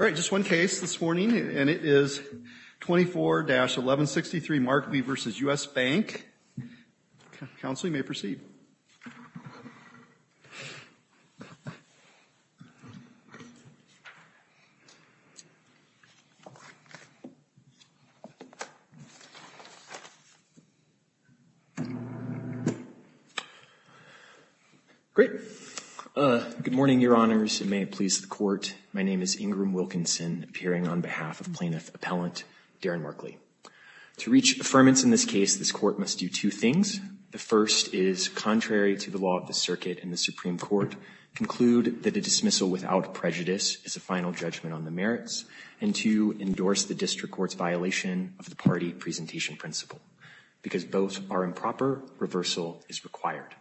All right, just one case this morning, and it is 24-1163 Markley v. U.S. Bank. Counsel, you may proceed. Great. Good morning, Your Honors, and may it please the Court. My name is Ingram Wilkinson, appearing on behalf of Plaintiff Appellant Darren Markley. To reach affirmance in this case, this Court must do two things. The first is, contrary to the law of the circuit in the Supreme Court, conclude that a dismissal without prejudice is a final judgment on the merits, and to endorse the district court's violation of the party presentation principle, because both are improper. Reversal is required.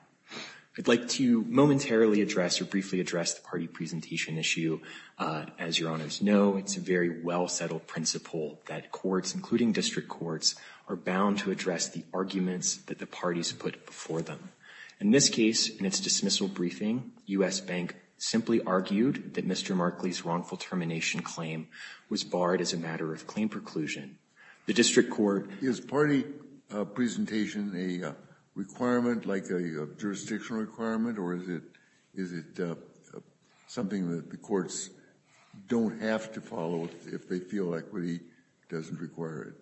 I'd like to momentarily address or briefly address the party presentation issue. As Your Honors know, it's a very well-settled principle that courts, including district courts, are bound to address the arguments that the parties put before them. In this case, in its dismissal briefing, U.S. Bank simply argued that Mr. Markley's wrongful termination claim was barred as a matter of claim preclusion. The district court... Is party presentation a requirement, like a jurisdictional requirement, or is it something that the courts don't have to follow if they feel equity doesn't require it?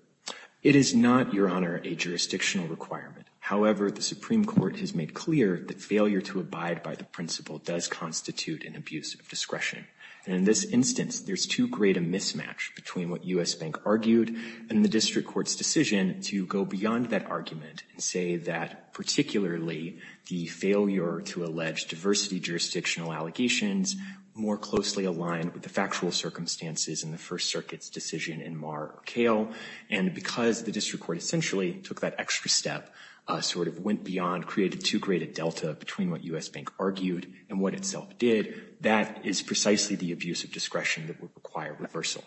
It is not, Your Honor, a jurisdictional requirement. However, the Supreme Court has made clear that failure to abide by the principle does constitute an abuse of discretion. And in this instance, there's too great a mismatch between what U.S. Bank argued and the district court's decision to go beyond that argument and say that, particularly, the failure to allege diversity jurisdictional allegations more closely aligned with the factual circumstances in the First Circuit's decision in Marr or Kale, and because the district court essentially took that extra step, sort of went beyond, created too great a delta between what U.S. Bank argued and what itself did. That is precisely the abuse of discretion that would require reversal.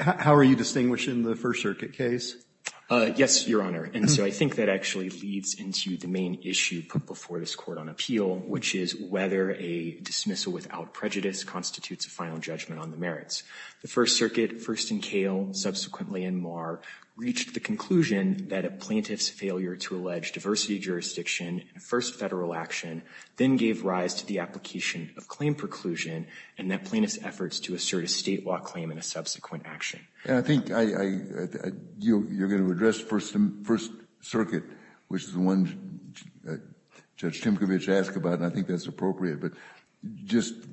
How are you distinguishing the First Circuit case? Yes, Your Honor. And so I think that actually leads into the main issue put before this Court on appeal, which is whether a dismissal without prejudice constitutes a final judgment on the merits. The First Circuit, first in Kale, subsequently in Marr, reached the conclusion that a plaintiff's failure to allege diversity jurisdiction in a first Federal action then gave rise to the application of claim preclusion and that plaintiff's efforts to assert a statewide claim in a subsequent action. And I think you're going to address First Circuit, which is the one Judge Timkovich asked about, and I think that's appropriate, but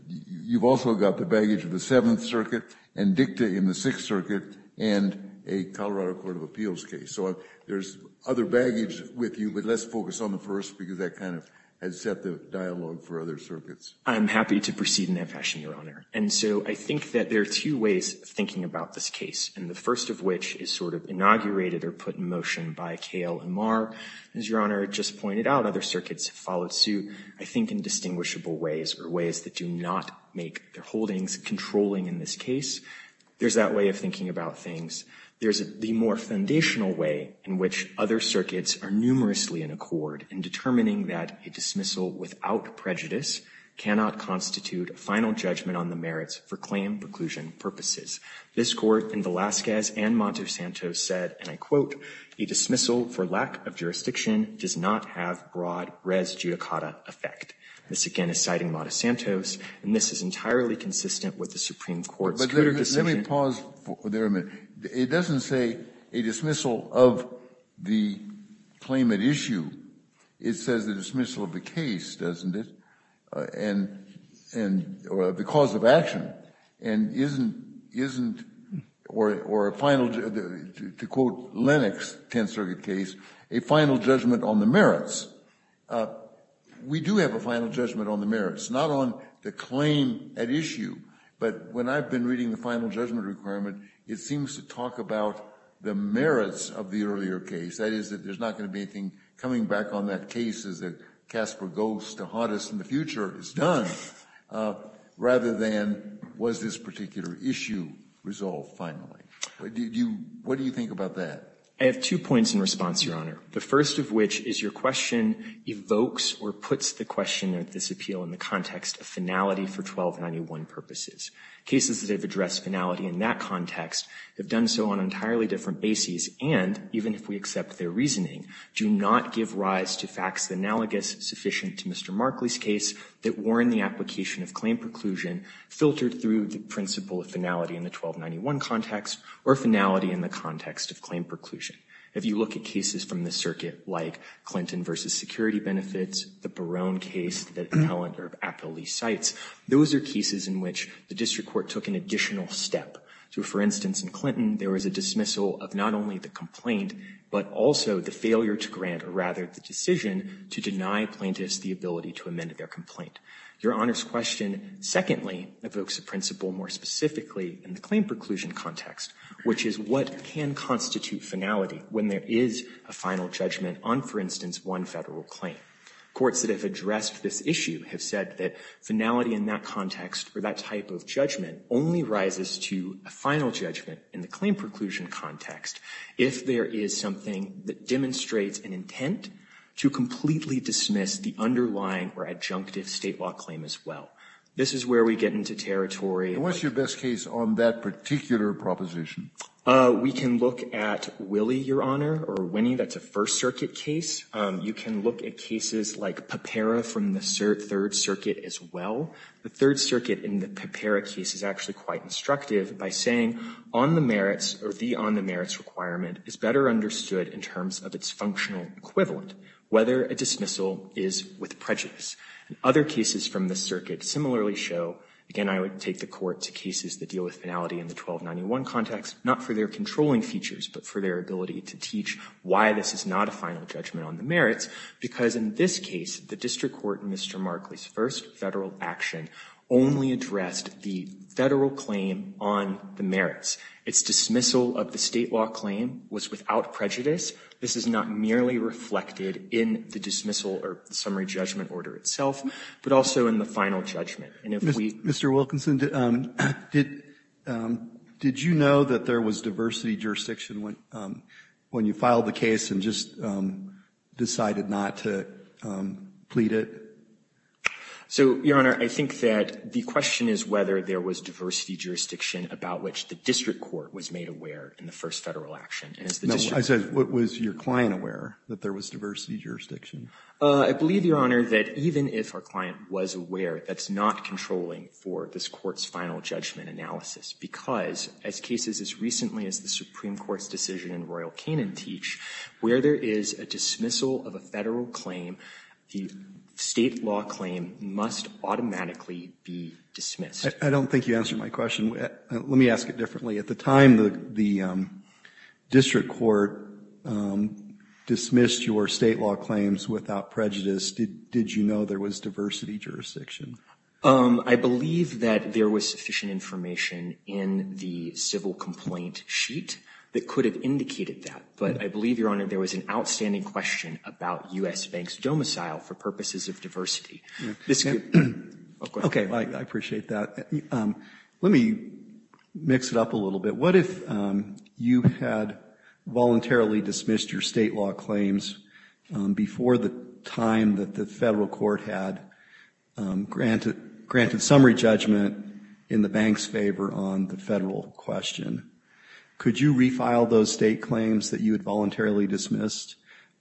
you've also got the baggage of the Seventh Circuit and dicta in the Sixth Circuit and a Colorado Court of Appeals case. So there's other baggage with you, but let's focus on the first because that kind of has set the dialogue for other circuits. I'm happy to proceed in that fashion, Your Honor. And so I think that there are two ways of thinking about this case, and the first of which is sort of inaugurated or put in motion by Kale and Marr. As Your Honor just pointed out, other circuits have followed suit, I think, in distinguishable ways or ways that do not make their holdings controlling in this case. There's that way of thinking about things. There's the more foundational way in which other circuits are numerously in accord in determining that a dismissal without prejudice cannot constitute a final judgment on the merits for claim preclusion purposes. This Court in Velazquez and Montesantos said, and I quote, a dismissal for lack of jurisdiction does not have broad res judicata effect. This, again, is citing Montesantos, and this is entirely consistent with the Supreme Court's decision. Let me pause there a minute. It doesn't say a dismissal of the claim at issue. It says a dismissal of the case, doesn't it, or the cause of action, and isn't, or a final, to quote Lennox, 10th Circuit case, a final judgment on the merits. We do have a final judgment on the merits, not on the claim at issue, but when I've been reading the final judgment requirement, it seems to talk about the merits of the earlier case. That is, that there's not going to be anything coming back on that case as a Casper ghost, the hottest in the future is done, rather than was this particular issue resolved finally. What do you think about that? I have two points in response, Your Honor. The first of which is your question evokes or puts the question at this appeal in the context of finality for 1291 purposes. Cases that have addressed finality in that context have done so on an entirely different basis, and even if we accept their reasoning, do not give rise to facts analogous sufficient to Mr. Markley's case that warn the application of claim preclusion, filtered through the principle of finality in the 1291 context, or finality in the context of claim preclusion. If you look at cases from the circuit like Clinton v. Security Benefits, the Barone case, the calendar of appellee sites, those are cases in which the district court took an additional step. So for instance, in Clinton, there was a dismissal of not only the complaint, but also the failure to grant, or rather the decision, to deny plaintiffs the ability to amend their complaint. Your Honor's question, secondly, evokes a principle more specifically in the claim preclusion context, which is what can constitute finality when there is a final judgment on, for instance, one federal claim. Courts that have addressed this issue have said that finality in that context, or that type of judgment, only rises to a final judgment in the claim preclusion context if there is something that demonstrates an intent to completely dismiss the underlying or adjunctive state law claim as well. This is where we get into territory. And what's your best case on that particular proposition? We can look at Willie, Your Honor, or Winnie. That's a First Circuit case. You can look at cases like Pepera from the Third Circuit as well. The Third Circuit in the Pepera case is actually quite instructive by saying, on the merits, or the on the merits requirement is better understood in terms of its functional equivalent, whether a dismissal is with prejudice. Other cases from the circuit similarly show, again, I would take the court to cases that deal with finality in the 1291 context, not for their controlling features, but for their ability to teach why this is not a final judgment on the merits, because in this case, the district court in Mr. Markley's first Federal action only addressed the Federal claim on the merits. Its dismissal of the state law claim was without prejudice. This is not merely reflected in the dismissal or summary judgment order itself, but also in the final judgment. Mr. Wilkinson, did you know that there was diversity jurisdiction when you filed the case and just decided not to plead it? So, Your Honor, I think that the question is whether there was diversity jurisdiction about which the district court was made aware in the first Federal action. I said, was your client aware that there was diversity jurisdiction? I believe, Your Honor, that even if our client was aware, that's not controlling for this Court's final judgment analysis, because as cases as recently as the Supreme Court's decision in Royal Canaan teach, where there is a dismissal of a Federal claim, the state law claim must automatically be dismissed. I don't think you answered my question. Let me ask it differently. At the time the district court dismissed your state law claims without prejudice, did you know there was diversity jurisdiction? I believe that there was sufficient information in the civil complaint sheet that could have indicated that. But I believe, Your Honor, there was an outstanding question about U.S. Bank's domicile for purposes of diversity. Okay, I appreciate that. Let me mix it up a little bit. What if you had voluntarily dismissed your state law claims before the time that the Federal court had granted summary judgment in the Bank's favor on the Federal question? Could you refile those state claims that you had voluntarily dismissed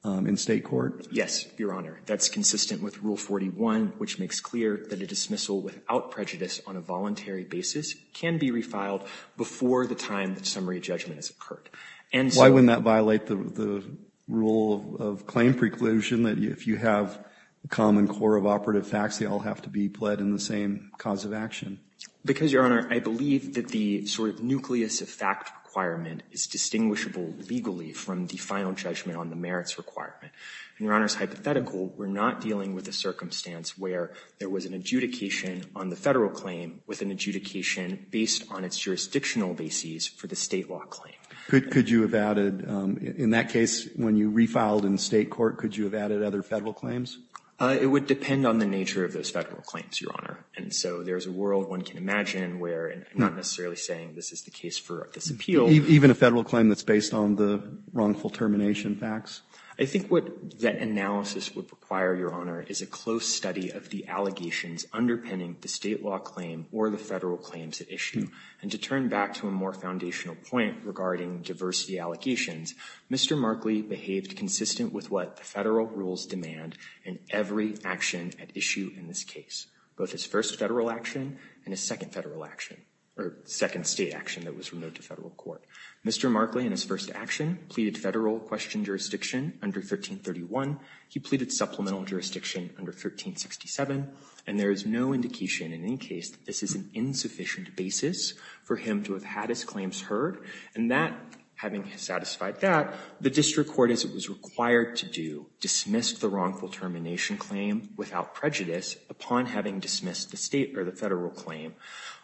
in state court? Yes, Your Honor. That's consistent with Rule 41, which makes clear that a dismissal without prejudice on a voluntary basis can be refiled before the time that summary judgment has occurred. And so why wouldn't that violate the rule of claim preclusion that if you have a common core of operative facts, they all have to be pled in the same cause of action? Because, Your Honor, I believe that the sort of nucleus of fact requirement is distinguishable legally from the final judgment on the merits requirement. And, Your Honor, it's hypothetical. We're not dealing with a circumstance where there was an adjudication on the Federal claim with an adjudication based on its jurisdictional basis for the state law claim. Could you have added, in that case, when you refiled in state court, could you have added other Federal claims? It would depend on the nature of those Federal claims, Your Honor. And so there's a world one can imagine where I'm not necessarily saying this is the case for this appeal. Even a Federal claim that's based on the wrongful termination facts? I think what that analysis would require, Your Honor, is a close study of the allegations underpinning the state law claim or the Federal claims at issue. And to turn back to a more foundational point regarding diversity allegations, Mr. Markley behaved consistent with what the Federal rules demand in every action at issue in this case, both his first Federal action and his second Federal action or second state action that was removed to Federal court. Mr. Markley in his first action pleaded Federal question jurisdiction under 1331. He pleaded supplemental jurisdiction under 1367. And there is no indication in any case that this is an insufficient basis for him to have had his claims heard. And that, having satisfied that, the district court, as it was required to do, dismissed the wrongful termination claim without prejudice upon having dismissed the state or the Federal claim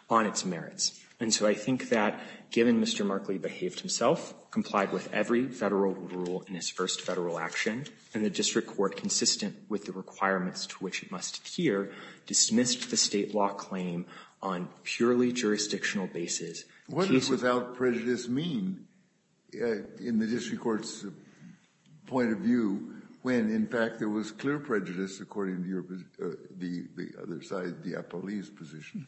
on its merits. And so I think that, given Mr. Markley behaved himself, complied with every Federal rule in his first Federal action, and the district court, consistent with the requirements to which it must adhere, dismissed the state law claim on purely jurisdictional basis, the case was clear. What does without prejudice mean in the district court's point of view when, in fact, there was clear prejudice according to your position, the other side, the appellee's position?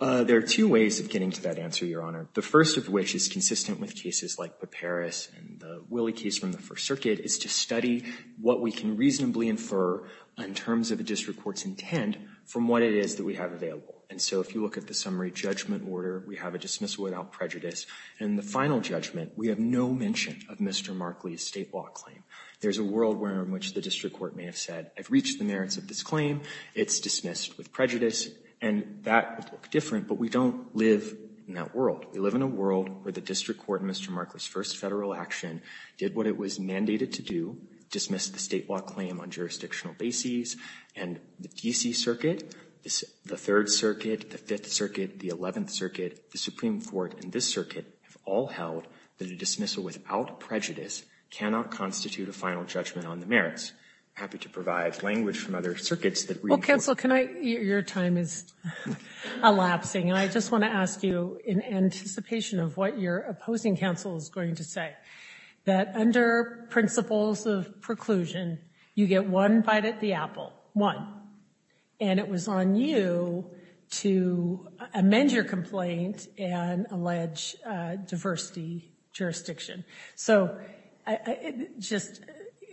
There are two ways of getting to that answer, Your Honor. The first of which is consistent with cases like Paparis and the Willie case from the First Circuit, is to study what we can reasonably infer in terms of a district court's intent from what it is that we have available. And so if you look at the summary judgment order, we have a dismissal without prejudice. In the final judgment, we have no mention of Mr. Markley's state law claim. There's a world where in which the district court may have said, I've reached the merits of this claim, it's dismissed with prejudice, and that would look different, but we don't live in that world. We live in a world where the district court in Mr. Markley's first Federal action did what it was mandated to do, dismissed the state law claim on jurisdictional basis, and the D.C. Circuit, the Third Circuit, the Fifth Circuit, the Eleventh Circuit, the Supreme Court, and this circuit have all held that a dismissal without prejudice cannot constitute a final judgment on the merits. I'm just happy to provide language from other circuits that read forward. Well, counsel, your time is elapsing, and I just want to ask you in anticipation of what your opposing counsel is going to say, that under principles of preclusion, you get one bite at the apple. One. And it was on you to amend your complaint and allege diversity jurisdiction. So just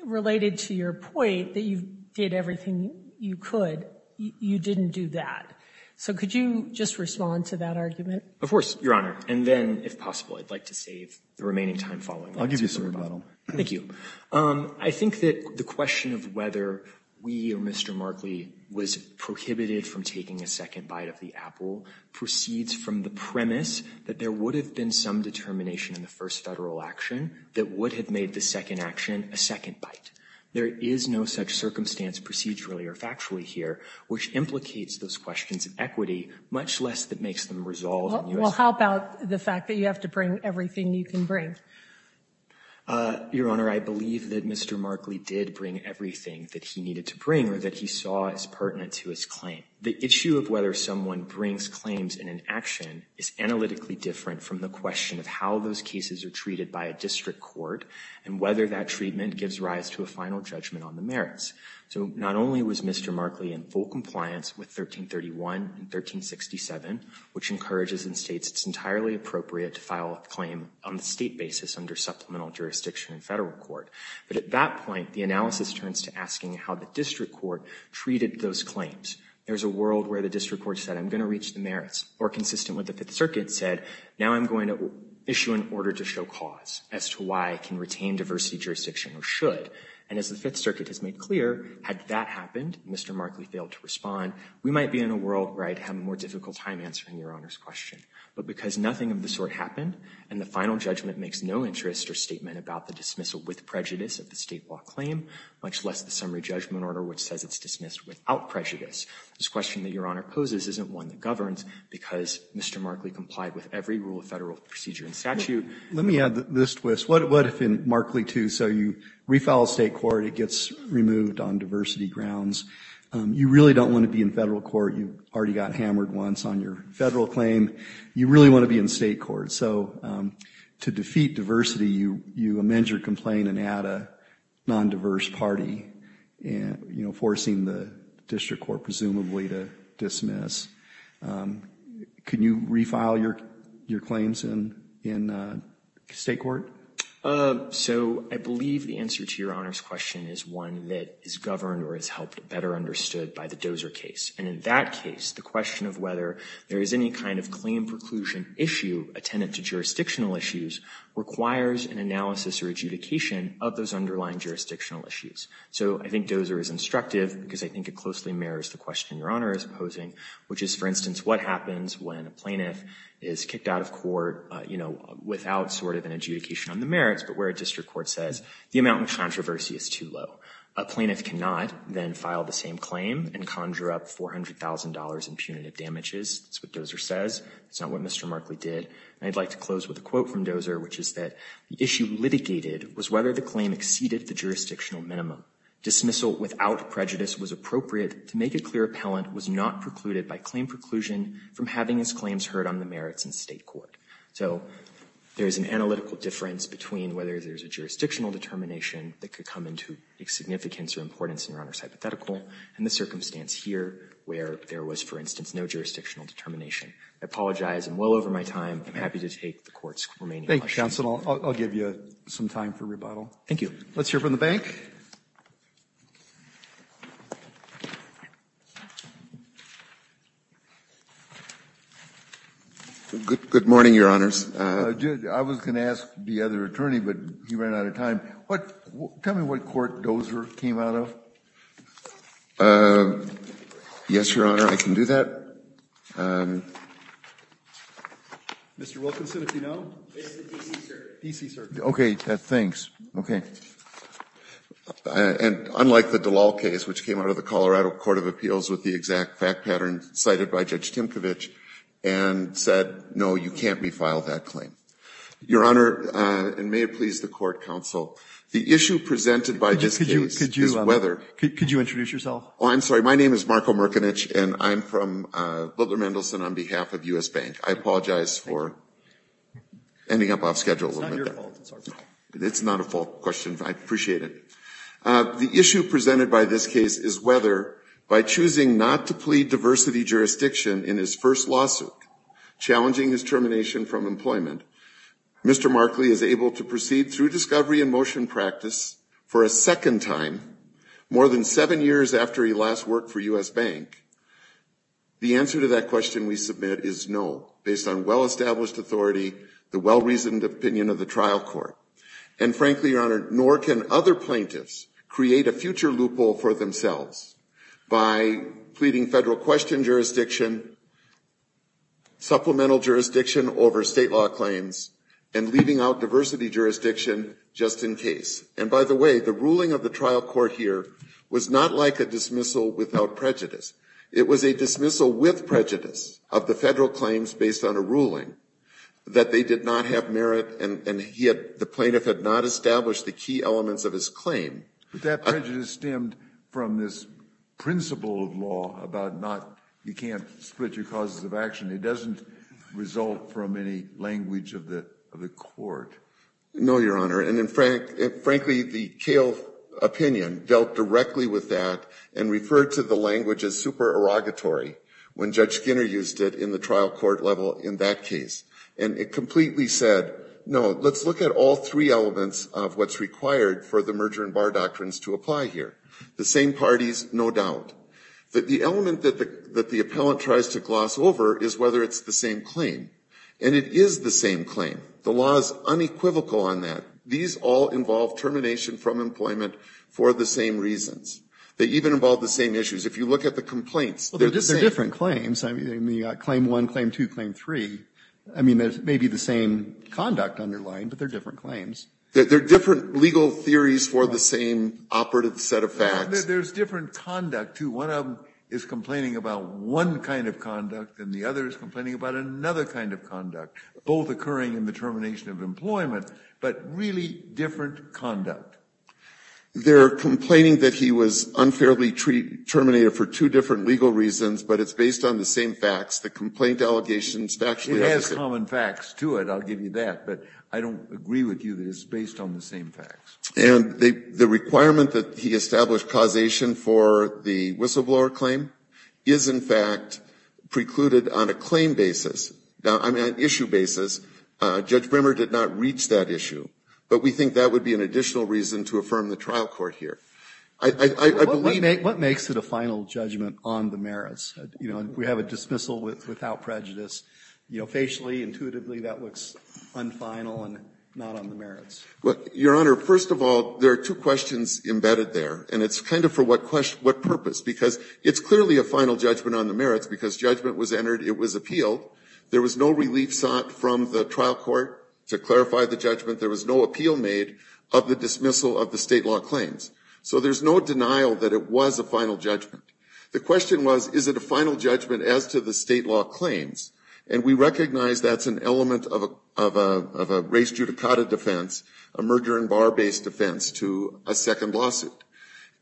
related to your point that you did everything you could, you didn't do that. So could you just respond to that argument? Of course, Your Honor. And then, if possible, I'd like to save the remaining time following that. I'll give you a second. Thank you. I think that the question of whether we or Mr. Markley was prohibited from taking a second bite of the apple proceeds from the premise that there would have been some determination in the first Federal action that would have made the second action a second bite. There is no such circumstance procedurally or factually here, which implicates those questions of equity, much less that makes them resolved in U.S. Well, how about the fact that you have to bring everything you can bring? Your Honor, I believe that Mr. Markley did bring everything that he needed to bring or that he saw as pertinent to his claim. The issue of whether someone brings claims in an action is analytically different from the question of how those cases are treated by a district court and whether that treatment gives rise to a final judgment on the merits. So not only was Mr. Markley in full compliance with 1331 and 1367, which encourages in states it's entirely appropriate to file a claim on a state basis under supplemental jurisdiction in Federal court, but at that point, the analysis turns to asking how the district court treated those claims. There's a world where the district court said, I'm going to reach the merits, or consistent with the Fifth Circuit said, now I'm going to issue an order to show cause as to why I can retain diversity jurisdiction or should. And as the Fifth Circuit has made clear, had that happened, Mr. Markley failed to respond, we might be in a world where I'd have a more difficult time answering Your Honor's question. But because nothing of the sort happened and the final judgment makes no interest or statement about the dismissal with prejudice of the State law claim, much less the summary judgment order which says it's dismissed without prejudice, this question that Your Honor poses isn't one that governs because Mr. Markley complied with every rule of Federal procedure and statute. Let me add this twist. What if in Markley II, so you refile State court, it gets removed on diversity grounds. You really don't want to be in Federal court. You already got hammered once on your Federal claim. You really want to be in State court. So to defeat diversity, you amend your complaint and add a non-diverse party, forcing the district court presumably to dismiss. Can you refile your claims in State court? So I believe the answer to Your Honor's question is one that is governed or is helped better understood by the Dozer case. And in that case, the question of whether there is any kind of claim preclusion issue attendant to jurisdictional issues requires an analysis or adjudication of those underlying jurisdictional issues. So I think Dozer is instructive because I think it closely mirrors the question Your Honor is posing, which is, for instance, what happens when a plaintiff is kicked out of court, you know, without sort of an adjudication on the merits, but where a district court says the amount of controversy is too low. A plaintiff cannot then file the same claim and conjure up $400,000 in punitive damages. That's what Dozer says. That's not what Mr. Markley did. And I'd like to close with a quote from Dozer, which is that the issue litigated was whether the claim exceeded the jurisdictional minimum. Dismissal without prejudice was appropriate to make it clear appellant was not precluded by claim preclusion from having his claims heard on the merits in State court. So there's an analytical difference between whether there's a jurisdictional determination that could come into significance or importance in Your Honor's hypothetical and the circumstance here where there was, for instance, no jurisdictional determination. I apologize. I'm well over my time. I'm happy to take the Court's remaining questions. Thank you, counsel. I'll give you some time for rebuttal. Thank you. Let's hear from the bank. Good morning, Your Honors. I was going to ask the other attorney, but he ran out of time. Tell me what court Dozer came out of. Yes, Your Honor, I can do that. Mr. Wilkinson, if you know. DC Circuit. Okay, thanks. And unlike the Dalal case, which came out of the Colorado Court of Appeals with the exact fact pattern cited by Judge Timkovich and said, no, you can't refile that claim. Your Honor, and may it please the Court, counsel, the issue presented by this case is whether. Could you introduce yourself? I'm sorry. My name is Marko Mirkonich, and I'm from Butler Mendelsohn on behalf of U.S. Bank. I apologize for ending up off schedule a little bit there. It's not your fault. It's our fault. It's not a fault question. I appreciate it. The issue presented by this case is whether, by choosing not to plead diversity jurisdiction in his first lawsuit challenging his termination from employment, Mr. Markley is able to proceed through discovery and motion practice for a work for U.S. Bank. The answer to that question we submit is no, based on well-established authority, the well-reasoned opinion of the trial court. And frankly, Your Honor, nor can other plaintiffs create a future loophole for themselves by pleading federal question jurisdiction, supplemental jurisdiction over state law claims, and leaving out diversity jurisdiction just in case. And by the way, the ruling of the trial court here was not like a dismissal without prejudice. It was a dismissal with prejudice of the federal claims based on a ruling that they did not have merit and the plaintiff had not established the key elements of his claim. But that prejudice stemmed from this principle of law about you can't split your causes of action. It doesn't result from any language of the court. No, Your Honor. And frankly, the Kale opinion dealt directly with that and referred to the language as supererogatory when Judge Skinner used it in the trial court level in that case. And it completely said, no, let's look at all three elements of what's required for the merger and bar doctrines to apply here. The same parties, no doubt. The element that the appellant tries to gloss over is whether it's the same claim. And it is the same claim. The law is unequivocal on that. These all involve termination from employment for the same reasons. They even involve the same issues. If you look at the complaints, they're the same. Well, they're different claims. I mean, you've got claim one, claim two, claim three. I mean, they may be the same conduct underlying, but they're different claims. They're different legal theories for the same operative set of facts. There's different conduct, too. One of them is complaining about one kind of conduct and the other is complaining about another kind of conduct. Both occurring in the termination of employment, but really different conduct. They're complaining that he was unfairly terminated for two different legal reasons, but it's based on the same facts. The complaint allegations actually have the same facts. It has common facts to it. I'll give you that. But I don't agree with you that it's based on the same facts. And the requirement that he establish causation for the whistleblower claim is, in fact, precluded on a claim basis. Now, on an issue basis, Judge Brimmer did not reach that issue, but we think that would be an additional reason to affirm the trial court here. I believe that. What makes it a final judgment on the merits? You know, we have a dismissal without prejudice. You know, facially, intuitively, that looks unfinal and not on the merits. Your Honor, first of all, there are two questions embedded there, and it's kind of for what purpose? Because it's clearly a final judgment on the merits, because judgment was entered, it was appealed. There was no relief sought from the trial court to clarify the judgment. There was no appeal made of the dismissal of the state law claims. So there's no denial that it was a final judgment. The question was, is it a final judgment as to the state law claims? And we recognize that's an element of a race judicata defense, a merger and bar-based defense, to a second lawsuit.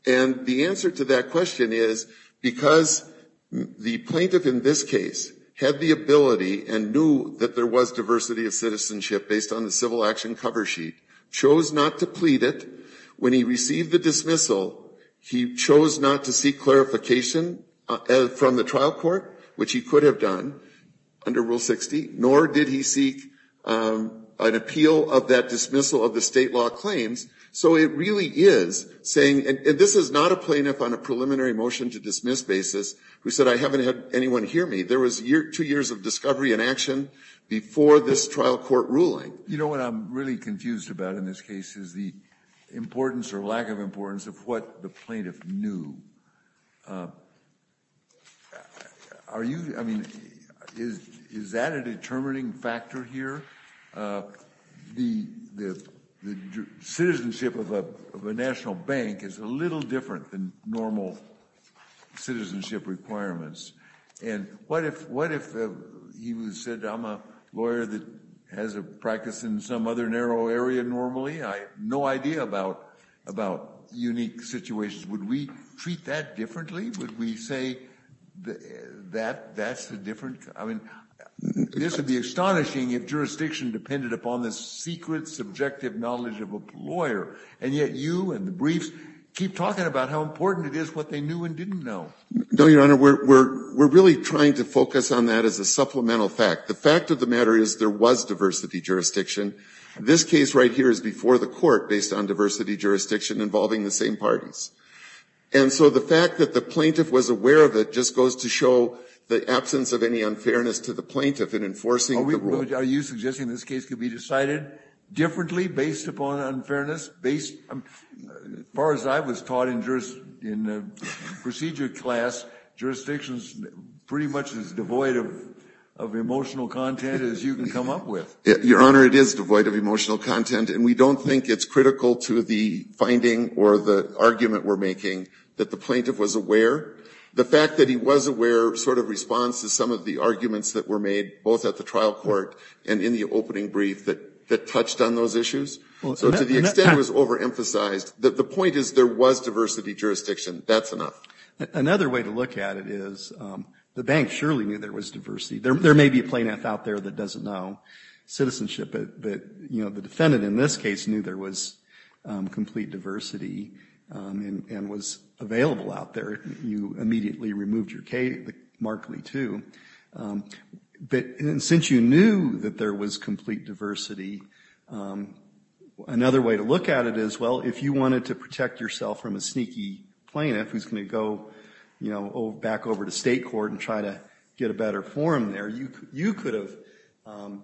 And the answer to that question is, because the plaintiff in this case had the ability and knew that there was diversity of citizenship based on the civil action cover sheet, chose not to plead it. When he received the dismissal, he chose not to seek clarification from the trial court, which he could have done under Rule 60, nor did he seek an appeal of that dismissal of the state law claims. So it really is saying, and this is not a plaintiff on a preliminary motion to dismiss basis who said, I haven't had anyone hear me. There was two years of discovery and action before this trial court ruling. You know what I'm really confused about in this case is the importance or lack of importance of what the plaintiff knew. Are you, I mean, is that a determining factor here? The citizenship of a national bank is a little different than normal citizenship requirements. And what if he said, I'm a lawyer that has a practice in some other narrow area normally? I have no idea about unique situations. Would we treat that differently? Would we say that that's a different, I mean, this would be astonishing if jurisdiction depended upon the secret subjective knowledge of a lawyer. And yet you and the briefs keep talking about how important it is, what they knew and didn't know. No, Your Honor, we're really trying to focus on that as a supplemental fact. The fact of the matter is there was diversity jurisdiction. This case right here is before the court based on diversity jurisdiction involving the same parties. And so the fact that the plaintiff was aware of it just goes to show the absence of any unfairness to the plaintiff in enforcing the rule. So are you suggesting this case could be decided differently based upon unfairness? As far as I was taught in procedure class, jurisdiction is pretty much as devoid of emotional content as you can come up with. Your Honor, it is devoid of emotional content. And we don't think it's critical to the finding or the argument we're making that the plaintiff was aware. The fact that he was aware sort of responds to some of the arguments that were made both at the trial court and in the opening brief that touched on those issues. So to the extent it was overemphasized, the point is there was diversity jurisdiction. That's enough. Another way to look at it is the bank surely knew there was diversity. There may be a plaintiff out there that doesn't know citizenship, but the defendant in this case knew there was complete diversity and was available out there. You immediately removed your K markedly, too. But since you knew that there was complete diversity, another way to look at it is, well, if you wanted to protect yourself from a sneaky plaintiff who's going to go back over to state court and try to get a better forum there, you could have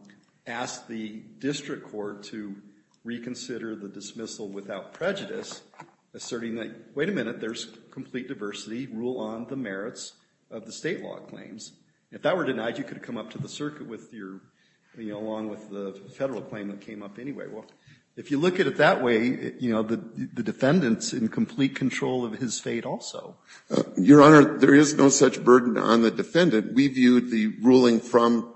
asked the district court to reconsider the dismissal without prejudice, asserting that, wait a minute, there's complete diversity. Rule on the merits of the state law claims. If that were denied, you could have come up to the circuit with your, you know, along with the Federal claim that came up anyway. Well, if you look at it that way, you know, the defendant's in complete control of his fate also. Your Honor, there is no such burden on the defendant. We viewed the ruling from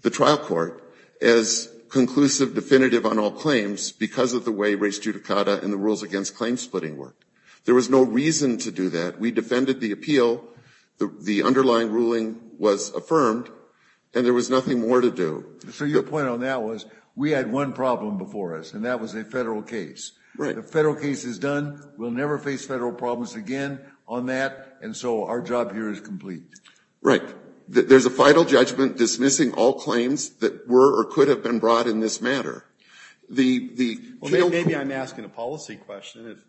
the trial court as conclusive, definitive on all claims because of the way race judicata and the rules against claim splitting work. There was no reason to do that. We defended the appeal. The underlying ruling was affirmed, and there was nothing more to do. So your point on that was we had one problem before us, and that was a Federal case. Right. The Federal case is done. We'll never face Federal problems again on that. And so our job here is complete. Right. There's a final judgment dismissing all claims that were or could have been brought in this matter. Well, maybe I'm asking a policy question.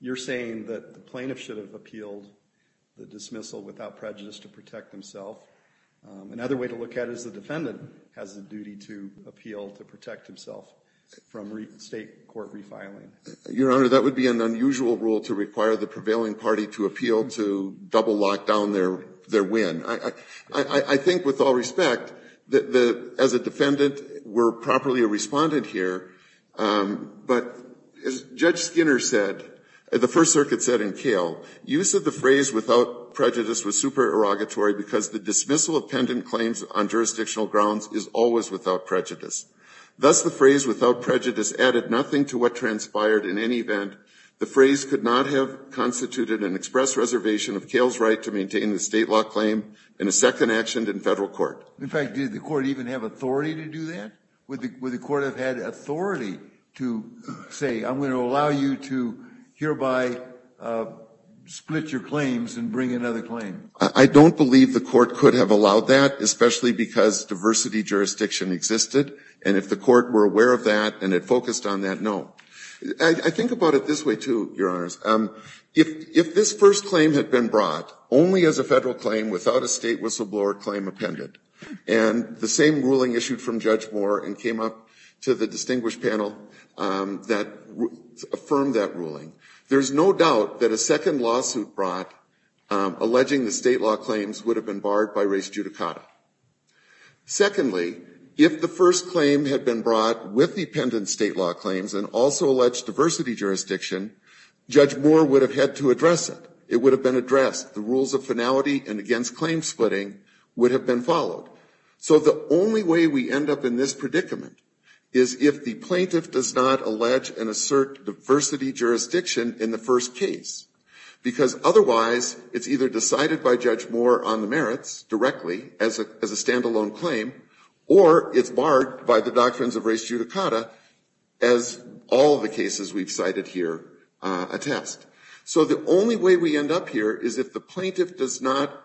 You're saying that the plaintiff should have appealed the dismissal without prejudice to protect himself. Another way to look at it is the defendant has the duty to appeal to protect himself from State court refiling. Your Honor, that would be an unusual rule to require the prevailing party to appeal to double lock down their win. I think with all respect, as a defendant, we're properly a respondent here. But as Judge Skinner said, the First Circuit said in Kale, use of the phrase without prejudice was supererogatory because the dismissal of pendant claims on jurisdictional grounds is always without prejudice. Thus, the phrase without prejudice added nothing to what transpired in any event. The phrase could not have constituted an express reservation of Kale's right to claim in a second action in federal court. In fact, did the court even have authority to do that? Would the court have had authority to say, I'm going to allow you to hereby split your claims and bring another claim? I don't believe the court could have allowed that, especially because diversity jurisdiction existed. And if the court were aware of that and it focused on that, no. I think about it this way, too, Your Honors. If this first claim had been brought only as a federal claim without a state whistleblower claim appendant, and the same ruling issued from Judge Moore and came up to the distinguished panel that affirmed that ruling, there's no doubt that a second lawsuit brought alleging the state law claims would have been barred by res judicata. Secondly, if the first claim had been brought with the appendant state law claims and also alleged diversity jurisdiction, Judge Moore would have had to address it. It would have been addressed. The rules of finality and against claim splitting would have been followed. So the only way we end up in this predicament is if the plaintiff does not allege and assert diversity jurisdiction in the first case. Because otherwise, it's either decided by Judge Moore on the merits directly as a stand-alone claim, or it's barred by the doctrines of res judicata as all of the cases we've cited here attest. So the only way we end up here is if the plaintiff does not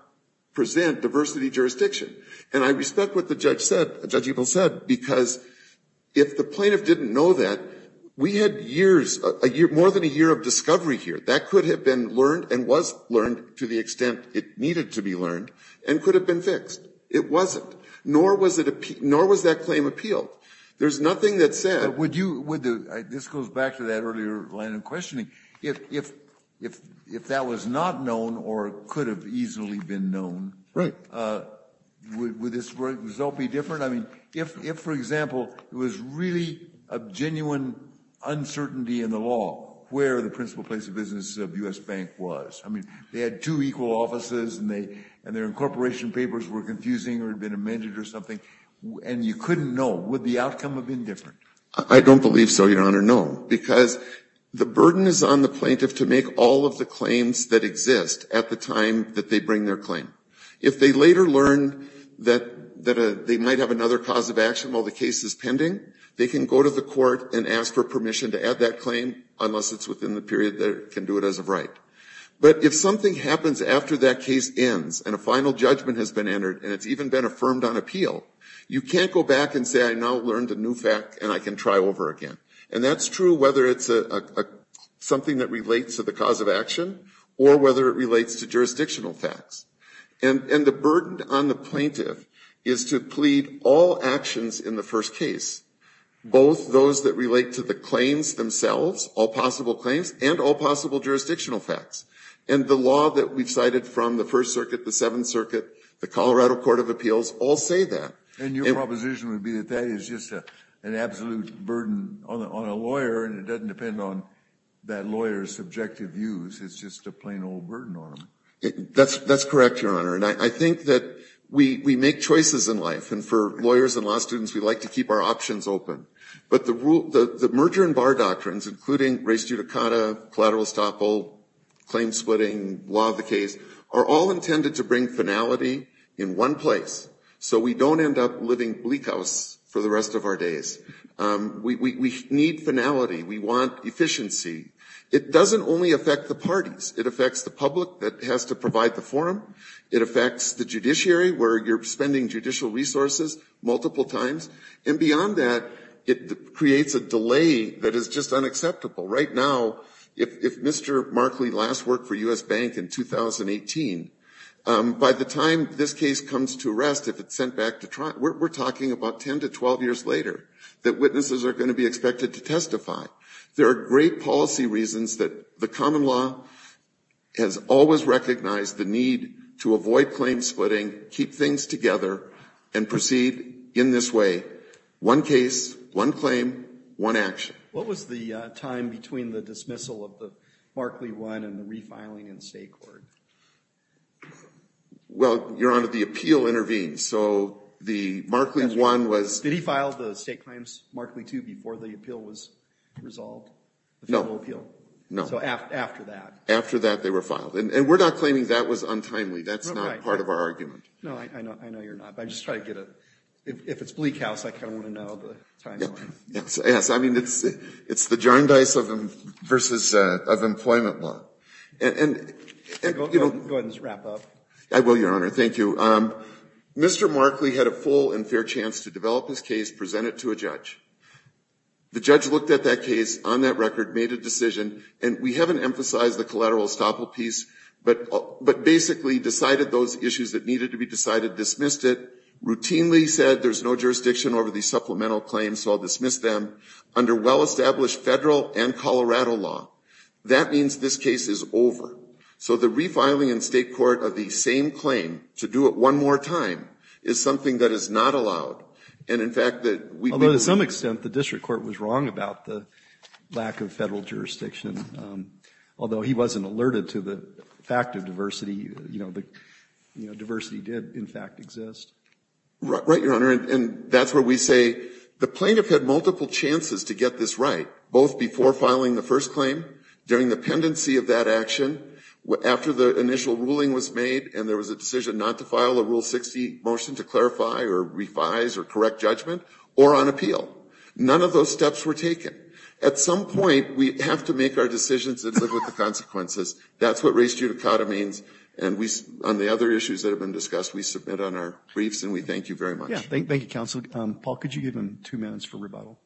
present diversity jurisdiction. And I respect what the judge said, Judge Ebel said, because if the plaintiff didn't know that, we had years, more than a year of discovery here. That could have been learned and was learned to the extent it needed to be learned and could have been fixed. It wasn't. Nor was that claim appealed. There's nothing that said. This goes back to that earlier line of questioning. If that was not known or could have easily been known, would this result be different? I mean, if, for example, there was really a genuine uncertainty in the law where the principal place of business of U.S. Bank was. I mean, they had two equal offices and their incorporation papers were confusing or had been amended or something. And you couldn't know. Would the outcome have been different? I don't believe so, Your Honor. No. Because the burden is on the plaintiff to make all of the claims that exist at the time that they bring their claim. If they later learn that they might have another cause of action while the case is pending, they can go to the court and ask for permission to add that claim unless it's within the period that it can do it as of right. But if something happens after that case ends and a final judgment has been entered and it's even been affirmed on appeal, you can't go back and say I now learned a new fact and I can try over again. And that's true whether it's something that relates to the cause of action or whether it relates to jurisdictional facts. And the burden on the plaintiff is to plead all actions in the first case, both those that relate to the claims themselves, all possible claims, and all possible jurisdictional facts. And the law that we've cited from the First Circuit, the Seventh Circuit, the Colorado Court of Appeals all say that. And your proposition would be that that is just an absolute burden on a lawyer and it doesn't depend on that lawyer's subjective views. It's just a plain old burden on them. That's correct, Your Honor. And I think that we make choices in life. And for lawyers and law students, we like to keep our options open. But the merger and bar doctrines, including res judicata, collateral estoppel, claim splitting, law of the case, are all intended to bring finality in one place so we don't end up living bleak house for the rest of our days. We need finality. We want efficiency. It doesn't only affect the parties. It affects the public that has to provide the forum. It affects the judiciary where you're spending judicial resources multiple times. And beyond that, it creates a delay that is just unacceptable. Right now, if Mr. Markley last worked for U.S. Bank in 2018, by the time this case comes to rest, if it's sent back to trial, we're talking about 10 to 12 years later that witnesses are going to be expected to testify. There are great policy reasons that the common law has always recognized the need to avoid claim splitting, keep things together, and proceed in this way. One case, one claim, one action. What was the time between the dismissal of the Markley I and the refiling in state court? Well, Your Honor, the appeal intervened. So the Markley I was... Did he file the state claims Markley II before the appeal was resolved? No. The federal appeal? No. So after that? After that, they were filed. And we're not claiming that was untimely. That's not part of our argument. No, I know you're not. But I'm just trying to get a... If it's Bleak House, I kind of want to know the timeline. Yes. I mean, it's the jar and dice versus employment law. And... Go ahead and just wrap up. I will, Your Honor. Thank you. Mr. Markley had a full and fair chance to develop his case, present it to a The judge looked at that case, on that record, made a decision. And we haven't emphasized the collateral estoppel piece. But basically decided those issues that needed to be decided, dismissed it. Routinely said there's no jurisdiction over these supplemental claims, so I'll dismiss them. Under well-established federal and Colorado law. That means this case is over. So the refiling in state court of the same claim, to do it one more time, is something that is not allowed. And, in fact, that we've been... To some extent, the district court was wrong about the lack of federal jurisdiction. Although he wasn't alerted to the fact of diversity. You know, diversity did, in fact, exist. Right, Your Honor. And that's where we say the plaintiff had multiple chances to get this right. Both before filing the first claim, during the pendency of that action, after the initial ruling was made and there was a decision not to file a Rule 60 motion to clarify or revise or correct judgment, or on appeal. None of those steps were taken. At some point, we have to make our decisions and live with the consequences. That's what res judicata means. And we, on the other issues that have been discussed, we submit on our briefs and we thank you very much. Yeah. Thank you, counsel. Paul, could you give him two minutes for rebuttal?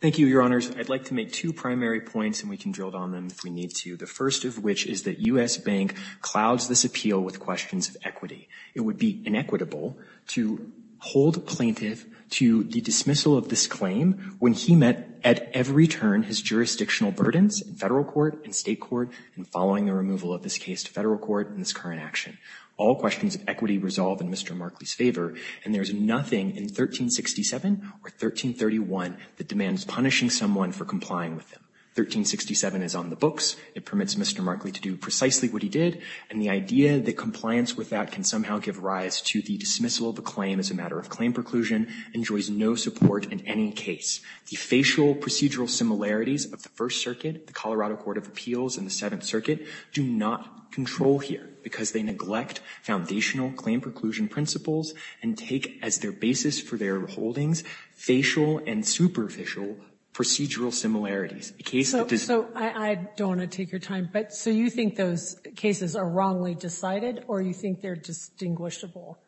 Thank you, Your Honors. I'd like to make two primary points and we can drill down on them if we need to. The first of which is that U.S. Bank clouds this appeal with questions of equity. It would be inequitable to hold a plaintiff to the dismissal of this claim when he met at every turn his jurisdictional burdens in federal court and state court and following the removal of this case to federal court in this current action. All questions of equity resolve in Mr. Markley's favor. And there's nothing in 1367 or 1331 that demands punishing someone for complying with them. 1367 is on the books. It permits Mr. Markley to do precisely what he did. And the idea that compliance with that can somehow give rise to the dismissal of a claim as a matter of claim preclusion enjoys no support in any case. The facial procedural similarities of the First Circuit, the Colorado Court of Appeals and the Seventh Circuit do not control here because they neglect foundational claim preclusion principles and take as their basis for their holdings facial and superficial procedural similarities. A case that does not. So I don't want to take your time, but so you think those cases are wrongly decided or you think they're distinguishable?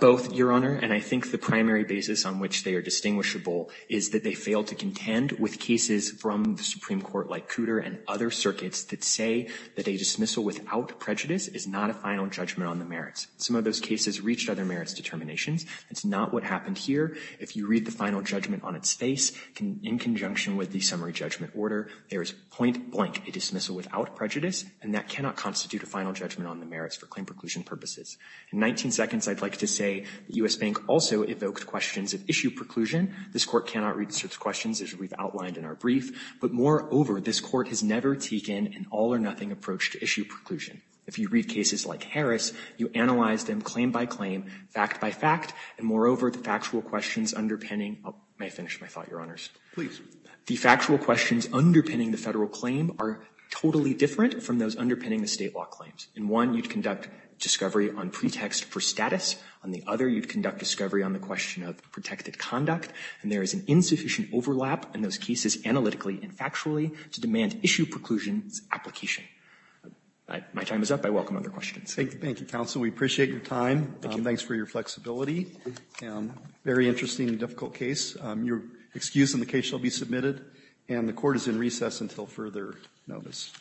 Both, Your Honor. And I think the primary basis on which they are distinguishable is that they fail to contend with cases from the Supreme Court like Cooter and other circuits that say that a dismissal without prejudice is not a final judgment on the merits. Some of those cases reached other merits determinations. That's not what happened here. If you read the final judgment on its face in conjunction with the summary judgment order, there is point blank a dismissal without prejudice, and that cannot constitute a final judgment on the merits for claim preclusion purposes. In 19 seconds, I'd like to say the U.S. Bank also evoked questions of issue preclusion. This Court cannot read such questions as we've outlined in our brief. But moreover, this Court has never taken an all-or-nothing approach to issue preclusion. If you read cases like Harris, you analyze them claim by claim, fact by fact, and moreover, the factual questions underpinning. May I finish my thought, Your Honors? Please. The factual questions underpinning the Federal claim are totally different from those underpinning the State law claims. In one, you'd conduct discovery on pretext for status. On the other, you'd conduct discovery on the question of protected conduct. And there is an insufficient overlap in those cases analytically and factually to demand issue preclusion's application. My time is up. I welcome other questions. Thank you, counsel. We appreciate your time. Thanks for your flexibility. Very interesting and difficult case. Your excuse in the case shall be submitted. And the Court is in recess until further notice. Thank you. Thank you. Thank you. Thank you.